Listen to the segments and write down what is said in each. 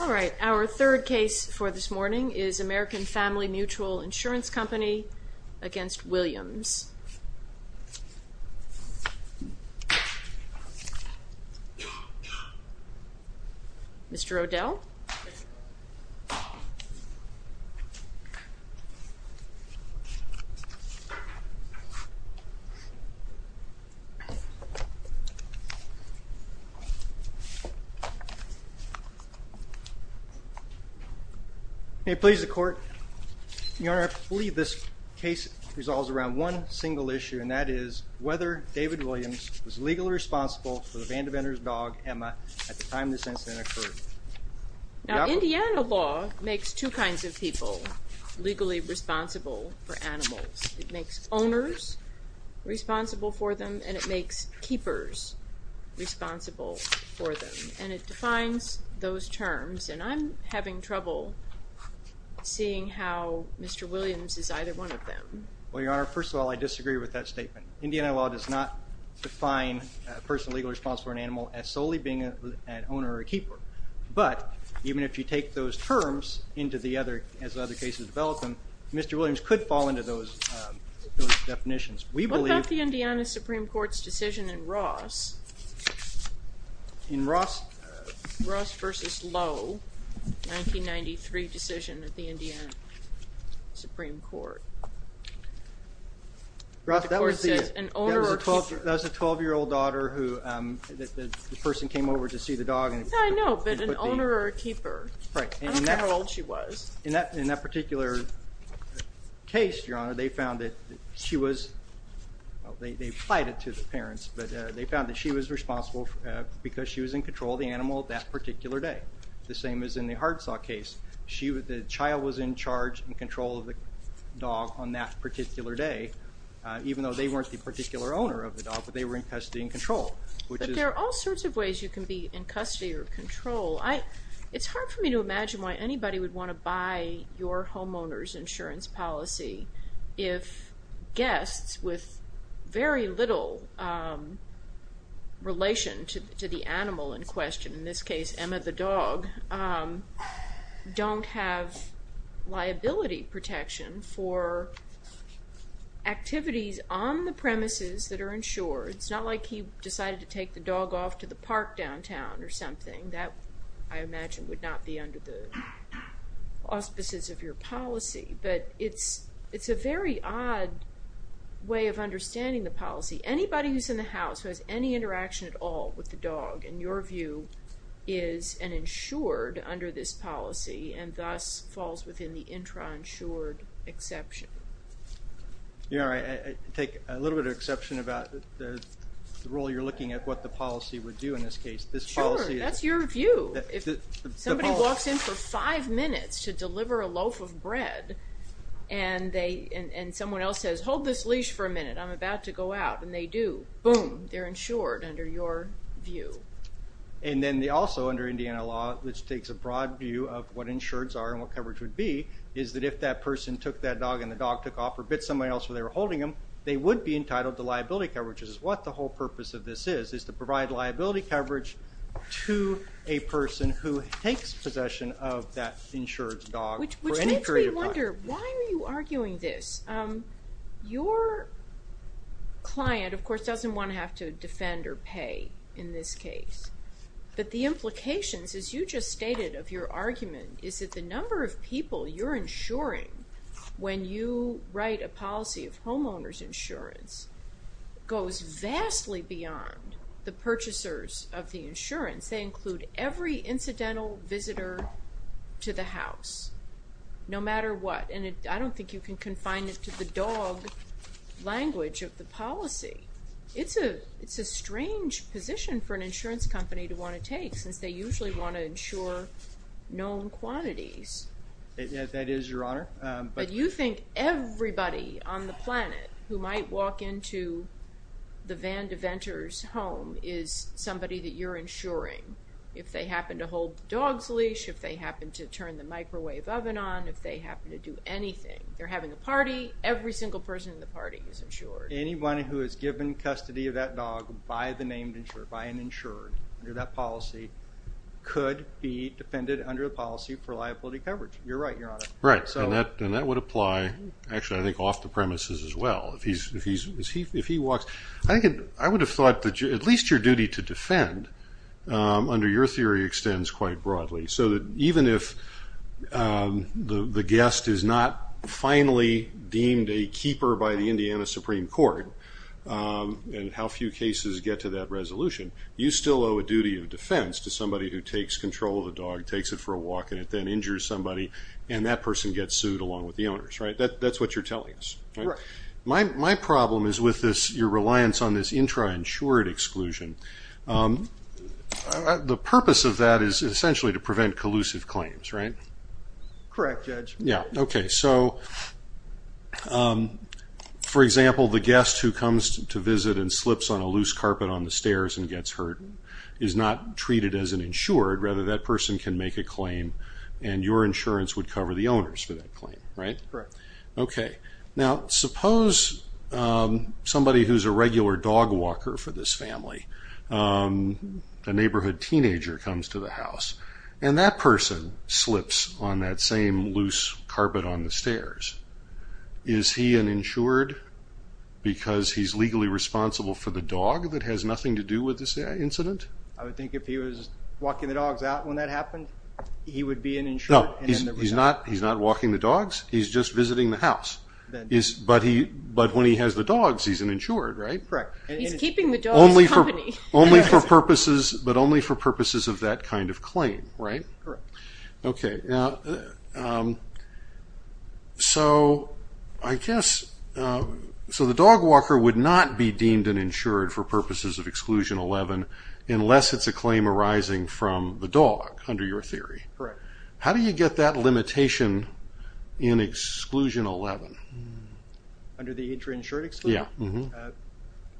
All right, our third case for this morning is American Family Mutual Insurance Company v. Williams. May it please the court. Your Honor, I believe this case resolves around one single issue, and that is whether David Williams was legally responsible for the vandivender's dog, Emma, at the time this incident occurred. Now, Indiana law makes two kinds of people legally responsible for animals. It makes owners responsible for them, and it makes keepers responsible for them, and it defines those terms, and I'm having trouble seeing how Mr. Williams is either one of them. Well, Your Honor, first of all, I disagree with that statement. Indiana law does not define a person legally responsible for an animal as solely being an owner or a keeper, but even if you take those terms into the other, as other cases develop them, Mr. Williams could fall into those definitions. What about the Indiana Supreme Court's decision in Ross? Ross v. Lowe, 1993 decision at the Indiana Supreme Court. That was a 12-year-old daughter who the person came over to see the dog. I know, but an owner or a keeper. I don't know how old she was. In that particular case, Your Honor, they found that she was, well, they applied it to the parents, but they found that she was responsible because she was in control of the animal that particular day, the same as in the hardsaw case. The child was in charge and control of the dog on that particular day, even though they weren't the particular owner of the dog, but they were in custody and control. But there are all sorts of ways you can be in custody or control. It's hard for me to imagine why anybody would want to buy your homeowner's insurance policy if guests with very little relation to the animal in question, in this case, Emma the dog, don't have liability protection for activities on the premises that are insured. It's not like he decided to take the dog off to the park downtown or something. That, I imagine, would not be under the auspices of your policy, but it's a very odd way of understanding the policy. Anybody who's in the house who has any interaction at all with the dog, in your view, is an insured under this policy and thus falls within the intra-insured exception. Yeah, I take a little bit of exception about the role you're looking at what the policy would do in this case. Sure, that's your view. If somebody walks in for five minutes to deliver a loaf of bread and someone else says, hold this leash for a minute, I'm about to go out, and they do, boom, they're insured under your view. And then they also, under Indiana law, which takes a broad view of what insureds are and what coverage would be, is that if that person took that dog and the dog took off or bit somebody else while they were holding him, they would be entitled to liability coverage. This is what the whole purpose of this is, is to provide liability coverage to a person who takes possession of that insured dog for any period of time. Senator, why are you arguing this? Your client, of course, doesn't want to have to defend or pay in this case. But the implications, as you just stated, of your argument is that the number of people you're insuring when you write a policy of homeowner's insurance goes vastly beyond the purchasers of the insurance. They include every incidental visitor to the house, no matter what. And I don't think you can confine it to the dog language of the policy. It's a strange position for an insurance company to want to take since they usually want to insure known quantities. That is, Your Honor. But you think everybody on the planet who might walk into the Van Deventer's home is somebody that you're insuring. If they happen to hold the dog's leash, if they happen to turn the microwave oven on, if they happen to do anything. They're having a party. Every single person in the party is insured. Anyone who is given custody of that dog by the named insurer, by an insured, under that policy, could be defended under the policy for liability coverage. You're right, Your Honor. Right, and that would apply, actually, I think off the premises as well. If he walks, I would have thought that at least your duty to defend, under your theory, extends quite broadly. So that even if the guest is not finally deemed a keeper by the Indiana Supreme Court, and how few cases get to that resolution, you still owe a duty of defense to somebody who takes control of the dog, takes it for a walk, and it then injures somebody. And that person gets sued along with the owners, right? That's what you're telling us, right? Right. My problem is with your reliance on this intra-insured exclusion. The purpose of that is essentially to prevent collusive claims, right? Correct, Judge. Yeah, okay. So, for example, the guest who comes to visit and slips on a loose carpet on the stairs and gets hurt is not treated as an insured. Rather, that person can make a claim, and your insurance would cover the owners for that claim, right? Correct. Okay. Now, suppose somebody who's a regular dog walker for this family, a neighborhood teenager comes to the house, and that person slips on that same loose carpet on the stairs. Is he an insured because he's legally responsible for the dog that has nothing to do with this incident? I would think if he was walking the dogs out when that happened, he would be an insured. No, he's not walking the dogs. He's just visiting the house. But when he has the dogs, he's an insured, right? Correct. He's keeping the dogs company. Only for purposes of that kind of claim, right? Correct. Okay. So, I guess, so the dog walker would not be deemed an insured for purposes of Exclusion 11, unless it's a claim arising from the dog, under your theory. Correct. How do you get that limitation in Exclusion 11? Under the intra-insured exclusion? Yeah.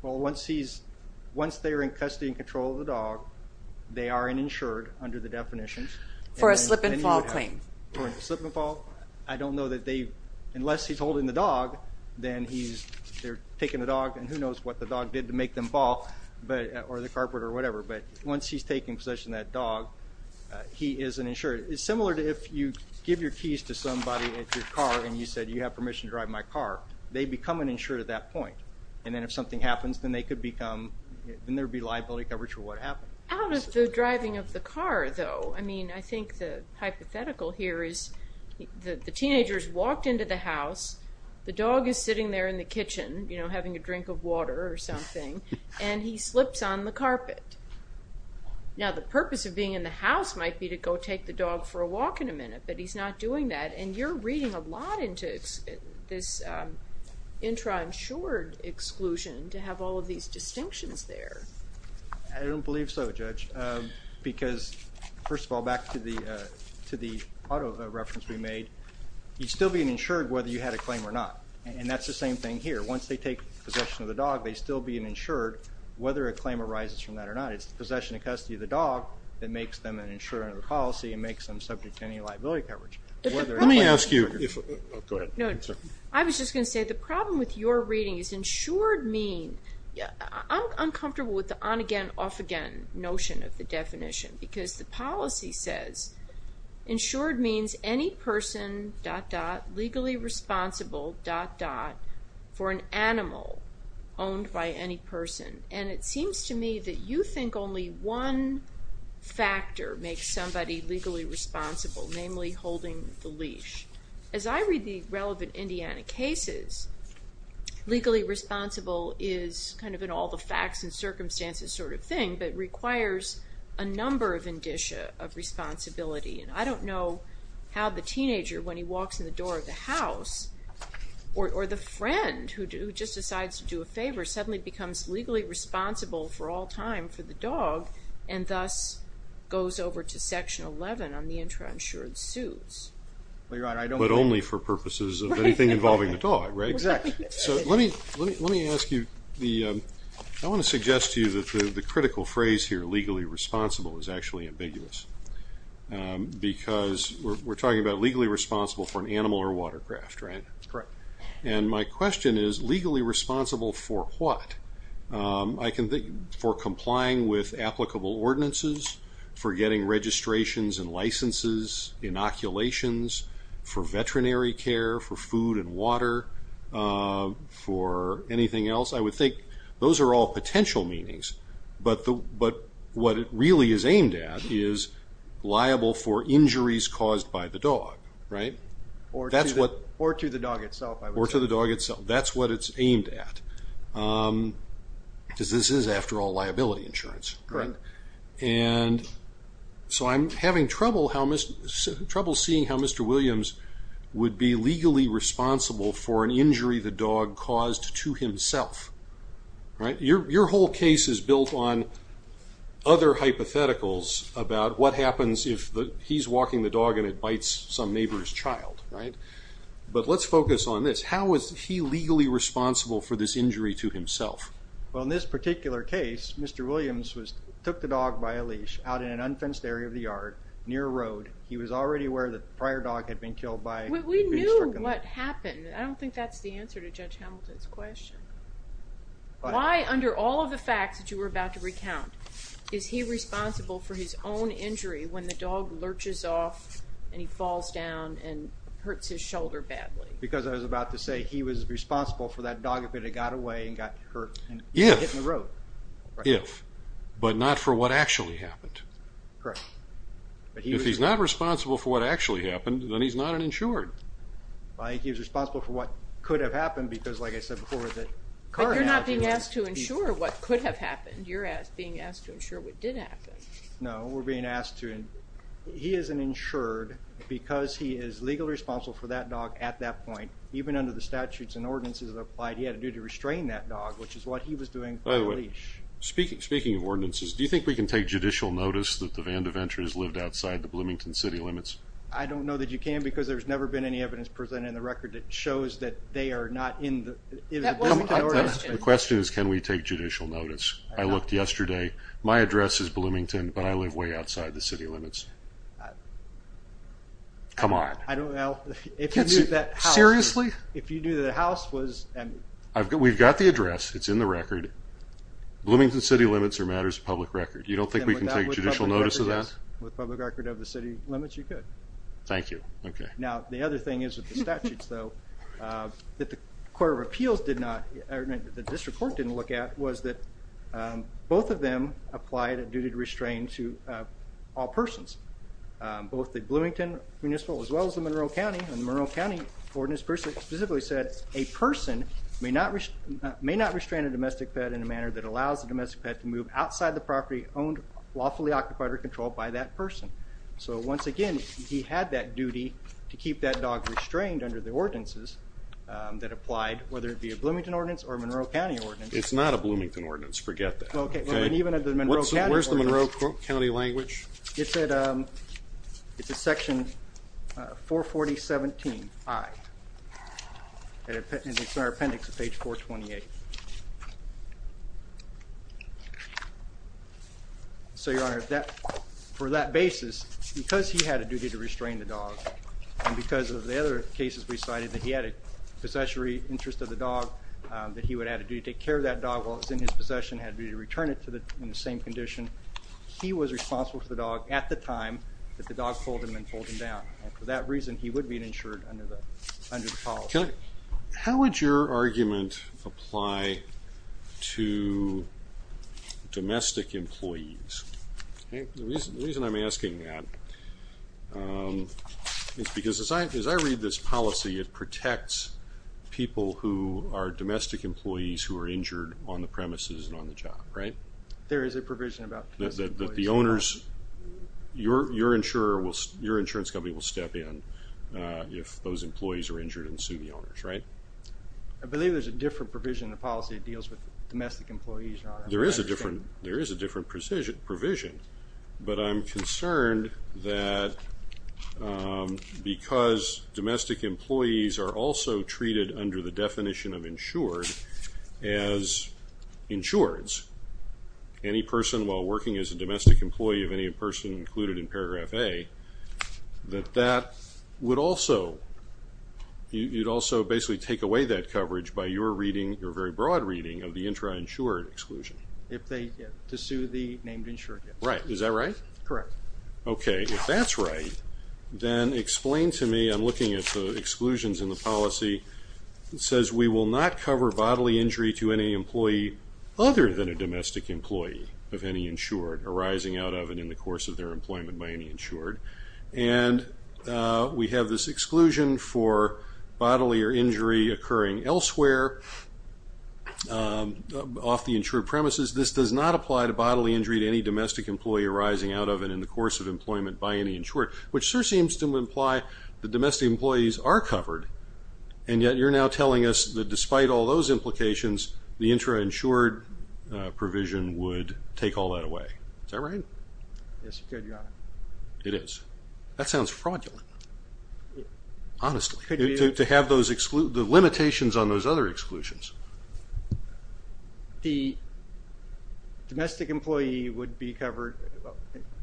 Well, once they are in custody and control of the dog, they are an insured under the definitions. For a slip and fall claim. For a slip and fall. I don't know that they, unless he's holding the dog, then he's, they're taking the dog, and who knows what the dog did to make them fall, or the carpet, or whatever. But once he's taking possession of that dog, he is an insured. It's similar to if you give your keys to somebody at your car and you said, you have permission to drive my car. They become an insured at that point. And then if something happens, then they could become, then there would be liability coverage for what happened. Out of the driving of the car, though, I mean, I think the hypothetical here is, the teenager's walked into the house, the dog is sitting there in the kitchen, you know, having a drink of water or something, and he slips on the carpet. Now, the purpose of being in the house might be to go take the dog for a walk in a minute, but he's not doing that, and you're reading a lot into this intra-insured exclusion to have all of these distinctions there. I don't believe so, Judge, because, first of all, back to the auto reference we made, you'd still be an insured whether you had a claim or not. And that's the same thing here. Once they take possession of the dog, they still be an insured, whether a claim arises from that or not. It's the possession and custody of the dog that makes them an insured under the policy and makes them subject to any liability coverage. Let me ask you. Go ahead. I was just going to say, the problem with your reading is insured mean, I'm uncomfortable with the on-again, off-again notion of the definition because the policy says insured means any person, dot, dot, legally responsible, dot, dot, for an animal owned by any person. And it seems to me that you think only one factor makes somebody legally responsible, namely holding the leash. As I read the relevant Indiana cases, legally responsible is kind of an all the facts and circumstances sort of thing, but it requires a number of indicia of responsibility. And I don't know how the teenager, when he walks in the door of the house, or the friend who just decides to do a favor, suddenly becomes legally responsible for all time for the dog and thus goes over to Section 11 on the intrainsured suits. But only for purposes of anything involving the dog, right? Exactly. So let me ask you, I want to suggest to you that the critical phrase here, legally responsible, is actually ambiguous because we're talking about legally responsible for an animal or a watercraft, right? Correct. And my question is, legally responsible for what? I can think, for complying with applicable ordinances, for getting registrations and licenses, inoculations, for veterinary care, for food and water, for anything else. I would think those are all potential meanings, but what it really is aimed at is liable for injuries caused by the dog, right? Or to the dog itself, I would say. Or to the dog itself. That's what it's aimed at, because this is, after all, liability insurance. Correct. And so I'm having trouble seeing how Mr. Williams would be legally responsible for an injury the dog caused to himself, right? Your whole case is built on other hypotheticals about what happens if he's walking the dog and it bites some neighbor's child, right? But let's focus on this. How is he legally responsible for this injury to himself? Well, in this particular case, Mr. Williams took the dog by a leash out in an unfenced area of the yard near a road. He was already aware that the prior dog had been killed by being struck. We knew what happened. I don't think that's the answer to Judge Hamilton's question. Why, under all of the facts that you were about to recount, is he responsible for his own injury when the dog lurches off and he falls down and hurts his shoulder badly? Because I was about to say, he was responsible for that dog if it had got away and got hurt and hit the road. If, but not for what actually happened. Correct. If he's not responsible for what actually happened, then he's not an insured. He was responsible for what could have happened because, like I said before, the car accident. But you're not being asked to insure what could have happened. You're being asked to insure what did happen. No, we're being asked to. He is an insured because he is legally responsible for that dog at that point, even under the statutes and ordinances that are applied, he had a duty to restrain that dog, which is what he was doing for the leash. By the way, speaking of ordinances, do you think we can take judicial notice that the Vandaventures lived outside the Bloomington city limits? I don't know that you can because there's never been any evidence presented in the record that shows that they are not in the Bloomington ordinance. The question is, can we take judicial notice? I looked yesterday. My address is Bloomington, but I live way outside the city limits. Come on. I don't know. Seriously? If you knew the house was... We've got the address. It's in the record. Bloomington city limits are a matter of public record. You don't think we can take judicial notice of that? With public record of the city limits, you could. Thank you. Okay. Now, the other thing is with the statutes, though, that the court of appeals did not, or the district court didn't look at, was that both of them applied a duty to restrain to all persons, both the Bloomington municipal as well as the Monroe County, and the Monroe County ordinance specifically said, a person may not restrain a domestic pet in a manner that allows the domestic pet to move outside the property owned, lawfully occupied, or controlled by that person. So, once again, he had that duty to keep that dog restrained under the ordinances that applied, whether it be a Bloomington ordinance or a Monroe County ordinance. It's not a Bloomington ordinance. Forget that. Okay. Where's the Monroe County language? It's at section 44017I. It's in our appendix at page 428. So, Your Honor, for that basis, because he had a duty to restrain the dog, and because of the other cases we cited that he had a possessory interest of the dog, that he would have a duty to take care of that dog while it was in his possession, had a duty to return it in the same condition, he was responsible for the dog at the time that the dog pulled him and pulled him down. And for that reason, he would be insured under the policy. How would your argument apply to domestic employees? The reason I'm asking that is because as I read this policy, it protects people who are domestic employees who are injured on the premises and on the job, right? There is a provision about the owners. Your insurance company will step in if those employees are injured and sue the owners, right? I believe there's a different provision in the policy that deals with domestic employees. There is a different provision, but I'm concerned that because domestic employees are also treated under the policy, any person while working as a domestic employee of any person included in paragraph A, that that would also, you'd also basically take away that coverage by your reading, your very broad reading of the intra-insured exclusion. If they get to sue the named insured. Right. Is that right? Correct. Okay. If that's right, then explain to me, I'm looking at the exclusions in the policy, it says we will not cover bodily injury to any employee other than a domestic employee of any insured arising out of and in the course of their employment by any insured. And we have this exclusion for bodily or injury occurring elsewhere off the insured premises. This does not apply to bodily injury to any domestic employee arising out of and in the course of employment by any insured, which sort of seems to imply that domestic employees are covered, and yet you're now telling us that despite all those implications, the intra-insured provision would take all that away. Is that right? Yes, it could, Your Honor. It is. That sounds fraudulent, honestly, to have the limitations on those other exclusions. The domestic employee would be covered.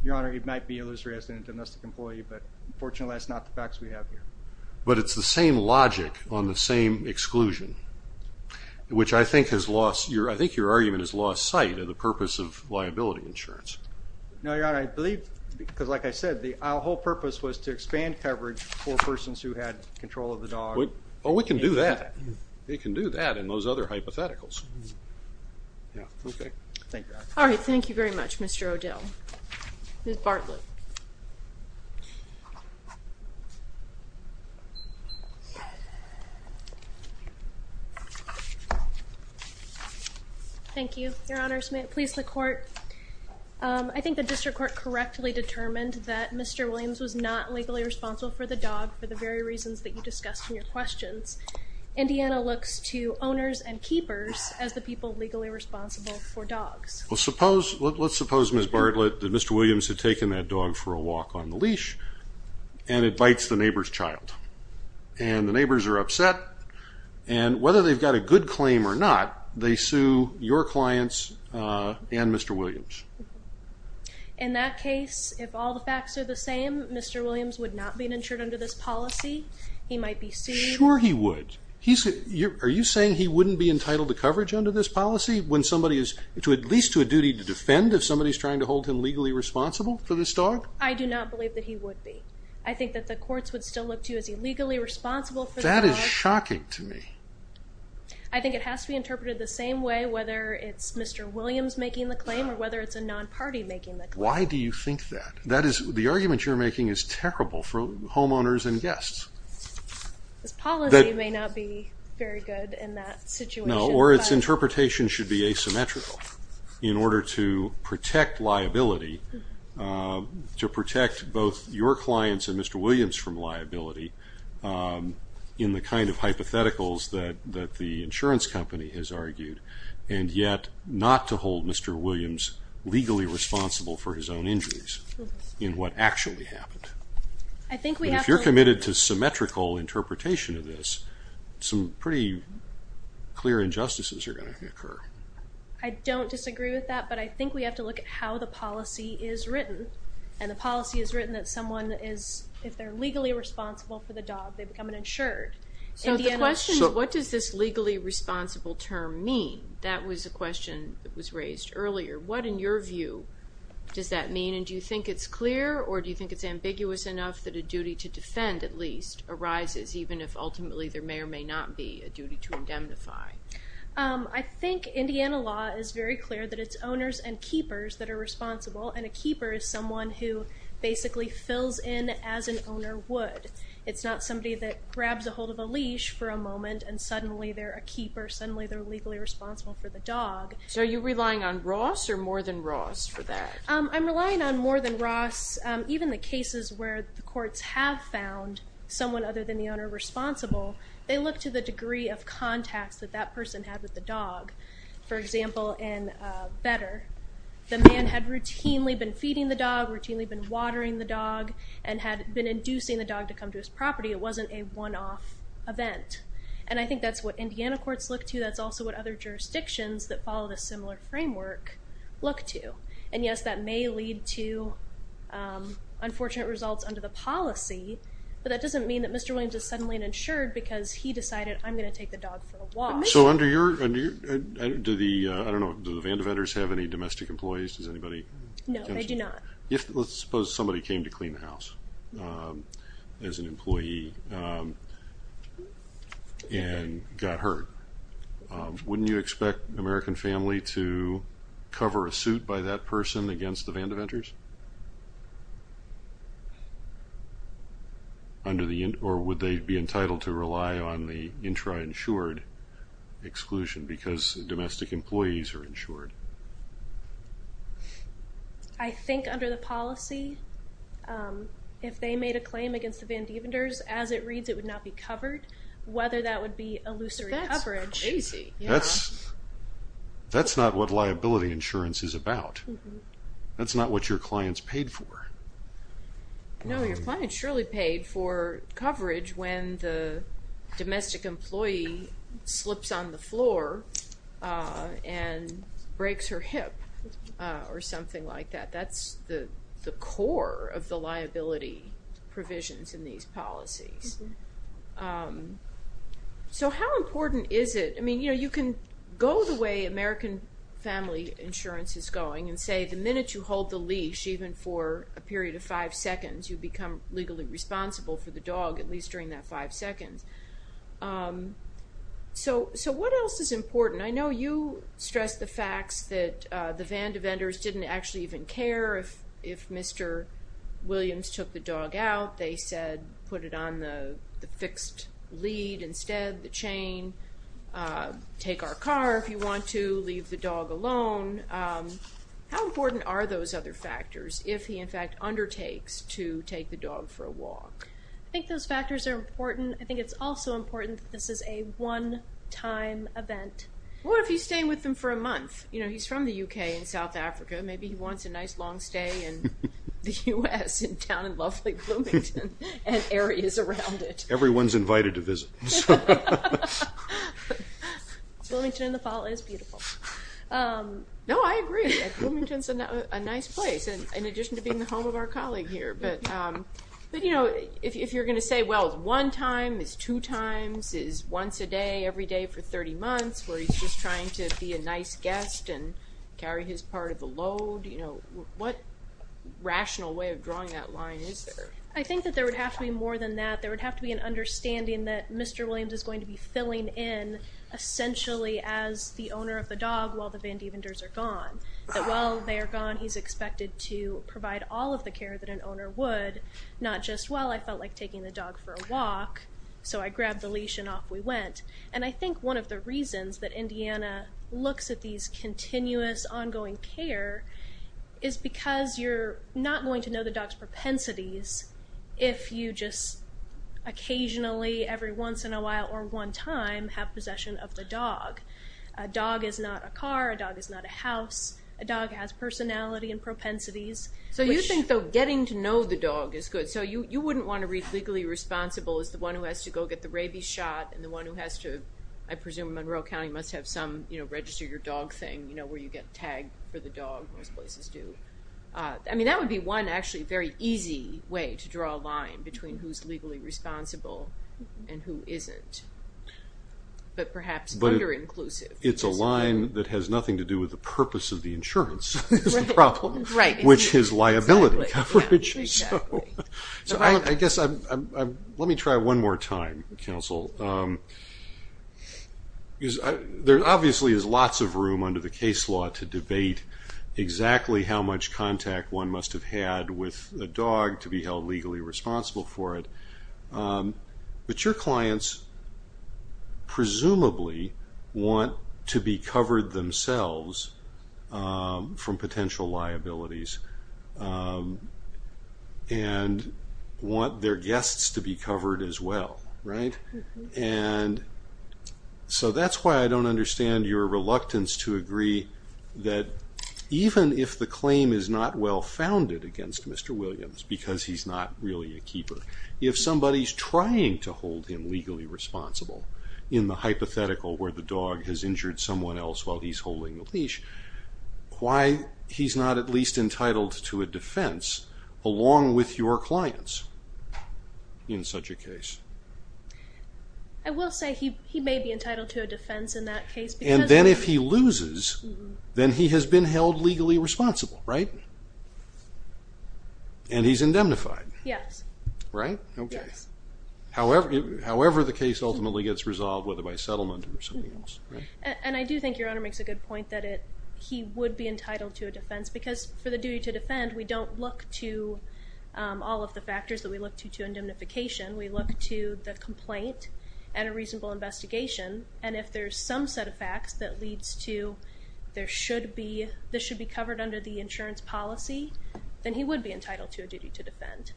Your Honor, it might be illusory as a domestic employee, but unfortunately that's not the facts we have here. But it's the same logic on the same exclusion, which I think your argument has lost sight of the purpose of liability insurance. No, Your Honor. I believe, because like I said, our whole purpose was to expand coverage for persons who had control of the dog. Oh, we can do that. We can do that and those other hypotheticals. Yeah. Okay. All right. Thank you very much, Mr. O'Dell. Ms. Bartlett. Thank you, Your Honor. Please, the court. I think the district court correctly determined that Mr. Williams was not legally responsible for the dog for the very reasons that you discussed in your questions. Indiana looks to owners and keepers as the people legally responsible for dogs. Well, let's suppose, Ms. Bartlett, that Mr. Williams had taken that dog for a walk on the leash and it bites the neighbor's child. And the neighbors are upset. And whether they've got a good claim or not, they sue your clients and Mr. Williams. In that case, if all the facts are the same, Mr. Williams would not be insured under this policy. He might be sued. Sure he would. Are you saying he wouldn't be entitled to coverage under this policy when somebody is at least to a duty to defend if somebody is trying to hold him legally responsible for this dog? I do not believe that he would be. I think that the courts would still look to you as illegally responsible for the dog. That is shocking to me. I think it has to be interpreted the same way, whether it's Mr. Williams making the claim or whether it's a non-party making the claim. Why do you think that? The argument you're making is terrible for homeowners and guests. This policy may not be very good in that situation. No, or its interpretation should be asymmetrical in order to protect liability, to protect both your clients and Mr. Williams from liability in the kind of hypotheticals that the insurance company has argued and yet not to hold Mr. Williams legally responsible for his own injuries in what actually happened. If you're committed to symmetrical interpretation of this, some pretty clear injustices are going to occur. I don't disagree with that, but I think we have to look at how the policy is written and the policy is written that someone is, if they're legally responsible for the dog, they become an insured. So the question is what does this legally responsible term mean? That was a question that was raised earlier. What, in your view, does that mean? And do you think it's clear or do you think it's ambiguous enough that a duty to defend at least arises, even if ultimately there may or may not be a duty to indemnify? I think Indiana law is very clear that it's owners and keepers that are responsible and a keeper is someone who basically fills in as an owner would. It's not somebody that grabs a hold of a leash for a moment and suddenly they're a keeper. Suddenly they're legally responsible for the dog. So are you relying on Ross or more than Ross for that? I'm relying on more than Ross. Even the cases where the courts have found someone other than the owner responsible, they look to the degree of contacts that that person had with the dog. For example, in Better, the man had routinely been feeding the dog, routinely been watering the dog, and had been inducing the dog to come to his property. It wasn't a one-off event. And I think that's what Indiana courts look to. That's also what other jurisdictions that follow this similar framework look to. And yes, that may lead to unfortunate results under the policy, but that doesn't mean that Mr. Williams is suddenly uninsured because he decided, I'm going to take the dog for a walk. So under your, do the, I don't know, do the Vandeventers have any domestic employees? Does anybody? No, they do not. Let's suppose somebody came to clean the house as an employee and got hurt. Wouldn't you expect an American family to cover a suit by that person against the Vandeventers? Under the, or would they be entitled to rely on the intra-insured exclusion because domestic employees are insured? I think under the policy, if they made a claim against the Vandeventers, as it reads, it would not be covered. Whether that would be illusory coverage. That's crazy. That's not what liability insurance is about. That's not what your client's paid for. No, your client surely paid for coverage when the domestic employee slips on the floor and breaks her hip or something like that. That's the core of the liability provisions in these policies. How important is it? You can go the way American family insurance is going and say the minute you hold the leash, even for a period of five seconds, you become legally responsible for the dog, at least during that five seconds. What else is important? I know you stressed the facts that the Vandeventers didn't actually even care if Mr. Williams took the dog out. They said put it on the fixed lead instead, the chain, take our car if you want to, leave the dog alone. How important are those other factors if he, in fact, undertakes to take the dog for a walk? I think those factors are important. I think it's also important that this is a one-time event. What if he's staying with them for a month? He's from the U.K. and South Africa. Maybe he wants a nice long stay in the U.S. and down in lovely Bloomington and areas around it. Everyone's invited to visit. Bloomington in the fall is beautiful. No, I agree. Bloomington's a nice place, in addition to being the home of our colleague here. If you're going to say, well, it's one time, it's two times, it's once a day, every day for 30 months, where he's just trying to be a nice guest and carry his part of the load, what rational way of drawing that line is there? I think that there would have to be more than that. There would have to be an understanding that Mr. Williams is going to be filling in, essentially, as the owner of the dog while the Vandevenders are gone. While they are gone, he's expected to provide all of the care that an owner would, not just, well, I felt like taking the dog for a walk, so I grabbed the leash and off we went. And I think one of the reasons that Indiana looks at these continuous, ongoing care is because you're not going to know the dog's propensities if you just occasionally, every once in a while or one time, have possession of the dog. A dog is not a car. A dog is not a house. A dog has personality and propensities. So you think, though, getting to know the dog is good. So you wouldn't want to read legally responsible as the one who has to go get the rabies shot and the one who has to, I presume Monroe County must have some register your dog thing, where you get tagged for the dog, most places do. I mean, that would be one, actually, very easy way to draw a line between who's legally responsible and who isn't. But perhaps under-inclusive. It's a line that has nothing to do with the purpose of the insurance is the problem, which is liability coverage. So I guess let me try one more time, counsel. There obviously is lots of room under the case law to debate exactly how much contact one must have had with a dog to be held legally responsible for it. But your clients presumably want to be covered themselves from potential liabilities and want their guests to be covered as well, right? And so that's why I don't understand your reluctance to agree that even if the claim is not well-founded against Mr. Williams because he's not really a keeper, if somebody's trying to hold him legally responsible in the hypothetical where the dog has injured someone else while he's holding the leash, why he's not at least entitled to a defense along with your clients in such a case? I will say he may be entitled to a defense in that case. And then if he loses, then he has been held legally responsible, right? And he's indemnified. Yes. Right? Yes. Okay. However the case ultimately gets resolved, whether by settlement or something else, right? And I do think your owner makes a good point that he would be entitled to a defense because for the duty to defend, we don't look to all of the factors that we look to to indemnification. We look to the complaint and a reasonable investigation. And if there's some set of facts that leads to there should be, this should be covered under the insurance policy, then he would be entitled to a duty to defend.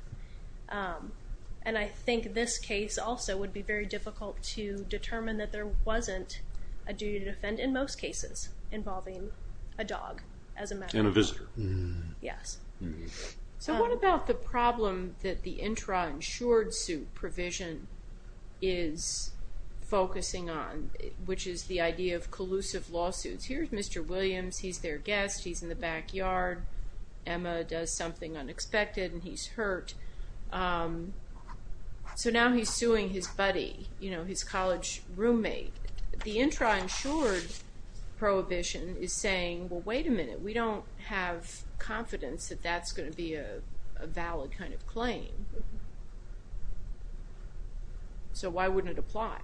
And I think this case also would be very difficult to determine that there wasn't a duty to defend in most cases involving a dog as a matter of fact. And a visitor. Yes. So what about the problem that the intra-insured suit provision is focusing on, which is the idea of collusive lawsuits? Here's Mr. Williams. He's their guest. He's in the backyard. Emma does something unexpected, and he's hurt. So now he's suing his buddy, you know, his college roommate. We don't have confidence that that's going to be a valid kind of claim. So why wouldn't it apply?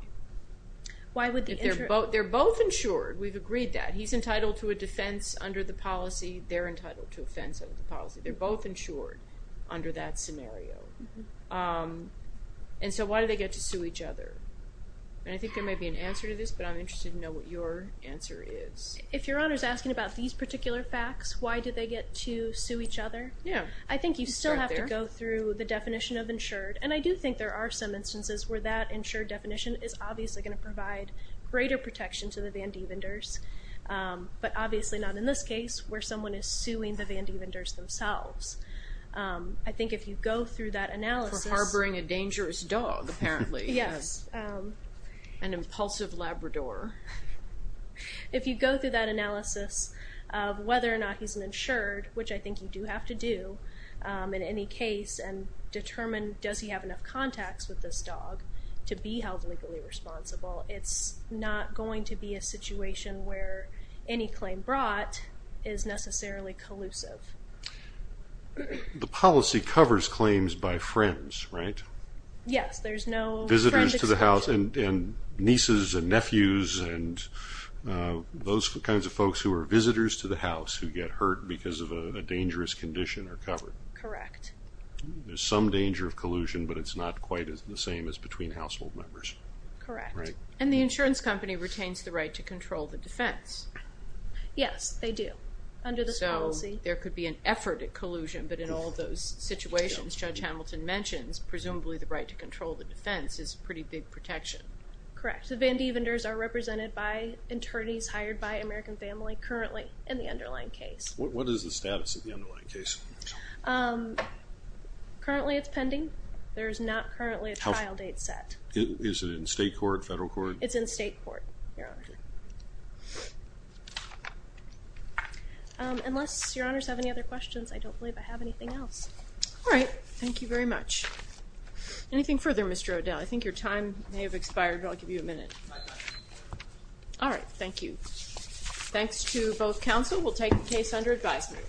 They're both insured. We've agreed that. He's entitled to a defense under the policy. They're entitled to a defense under the policy. They're both insured under that scenario. And so why do they get to sue each other? And I think there may be an answer to this, but I'm interested to know what your answer is. If Your Honor is asking about these particular facts, why do they get to sue each other? Yeah. I think you still have to go through the definition of insured. And I do think there are some instances where that insured definition is obviously going to provide greater protection to the Vandevenders, but obviously not in this case where someone is suing the Vandevenders themselves. I think if you go through that analysis. For harboring a dangerous dog, apparently. Yes. An impulsive Labrador. If you go through that analysis of whether or not he's insured, which I think you do have to do in any case, and determine does he have enough contacts with this dog to be held legally responsible, it's not going to be a situation where any claim brought is necessarily collusive. The policy covers claims by friends, right? Yes. Visitors to the house and nieces and nephews and those kinds of folks who are visitors to the house who get hurt because of a dangerous condition are covered. Correct. There's some danger of collusion, but it's not quite the same as between household members. Correct. And the insurance company retains the right to control the defense. Yes, they do under this policy. So there could be an effort at collusion, but in all those situations, Judge Hamilton mentions, presumably the right to control the defense is pretty big protection. Correct. The Vandevenders are represented by attorneys hired by American Family currently in the underlying case. What is the status of the underlying case? Currently it's pending. There is not currently a trial date set. Is it in state court, federal court? It's in state court, Your Honor. Unless Your Honors have any other questions, I don't believe I have anything else. All right. Thank you very much. Anything further, Mr. O'Dell? I think your time may have expired, but I'll give you a minute. All right. Thank you. Thanks to both counsel. We'll take the case under advisement.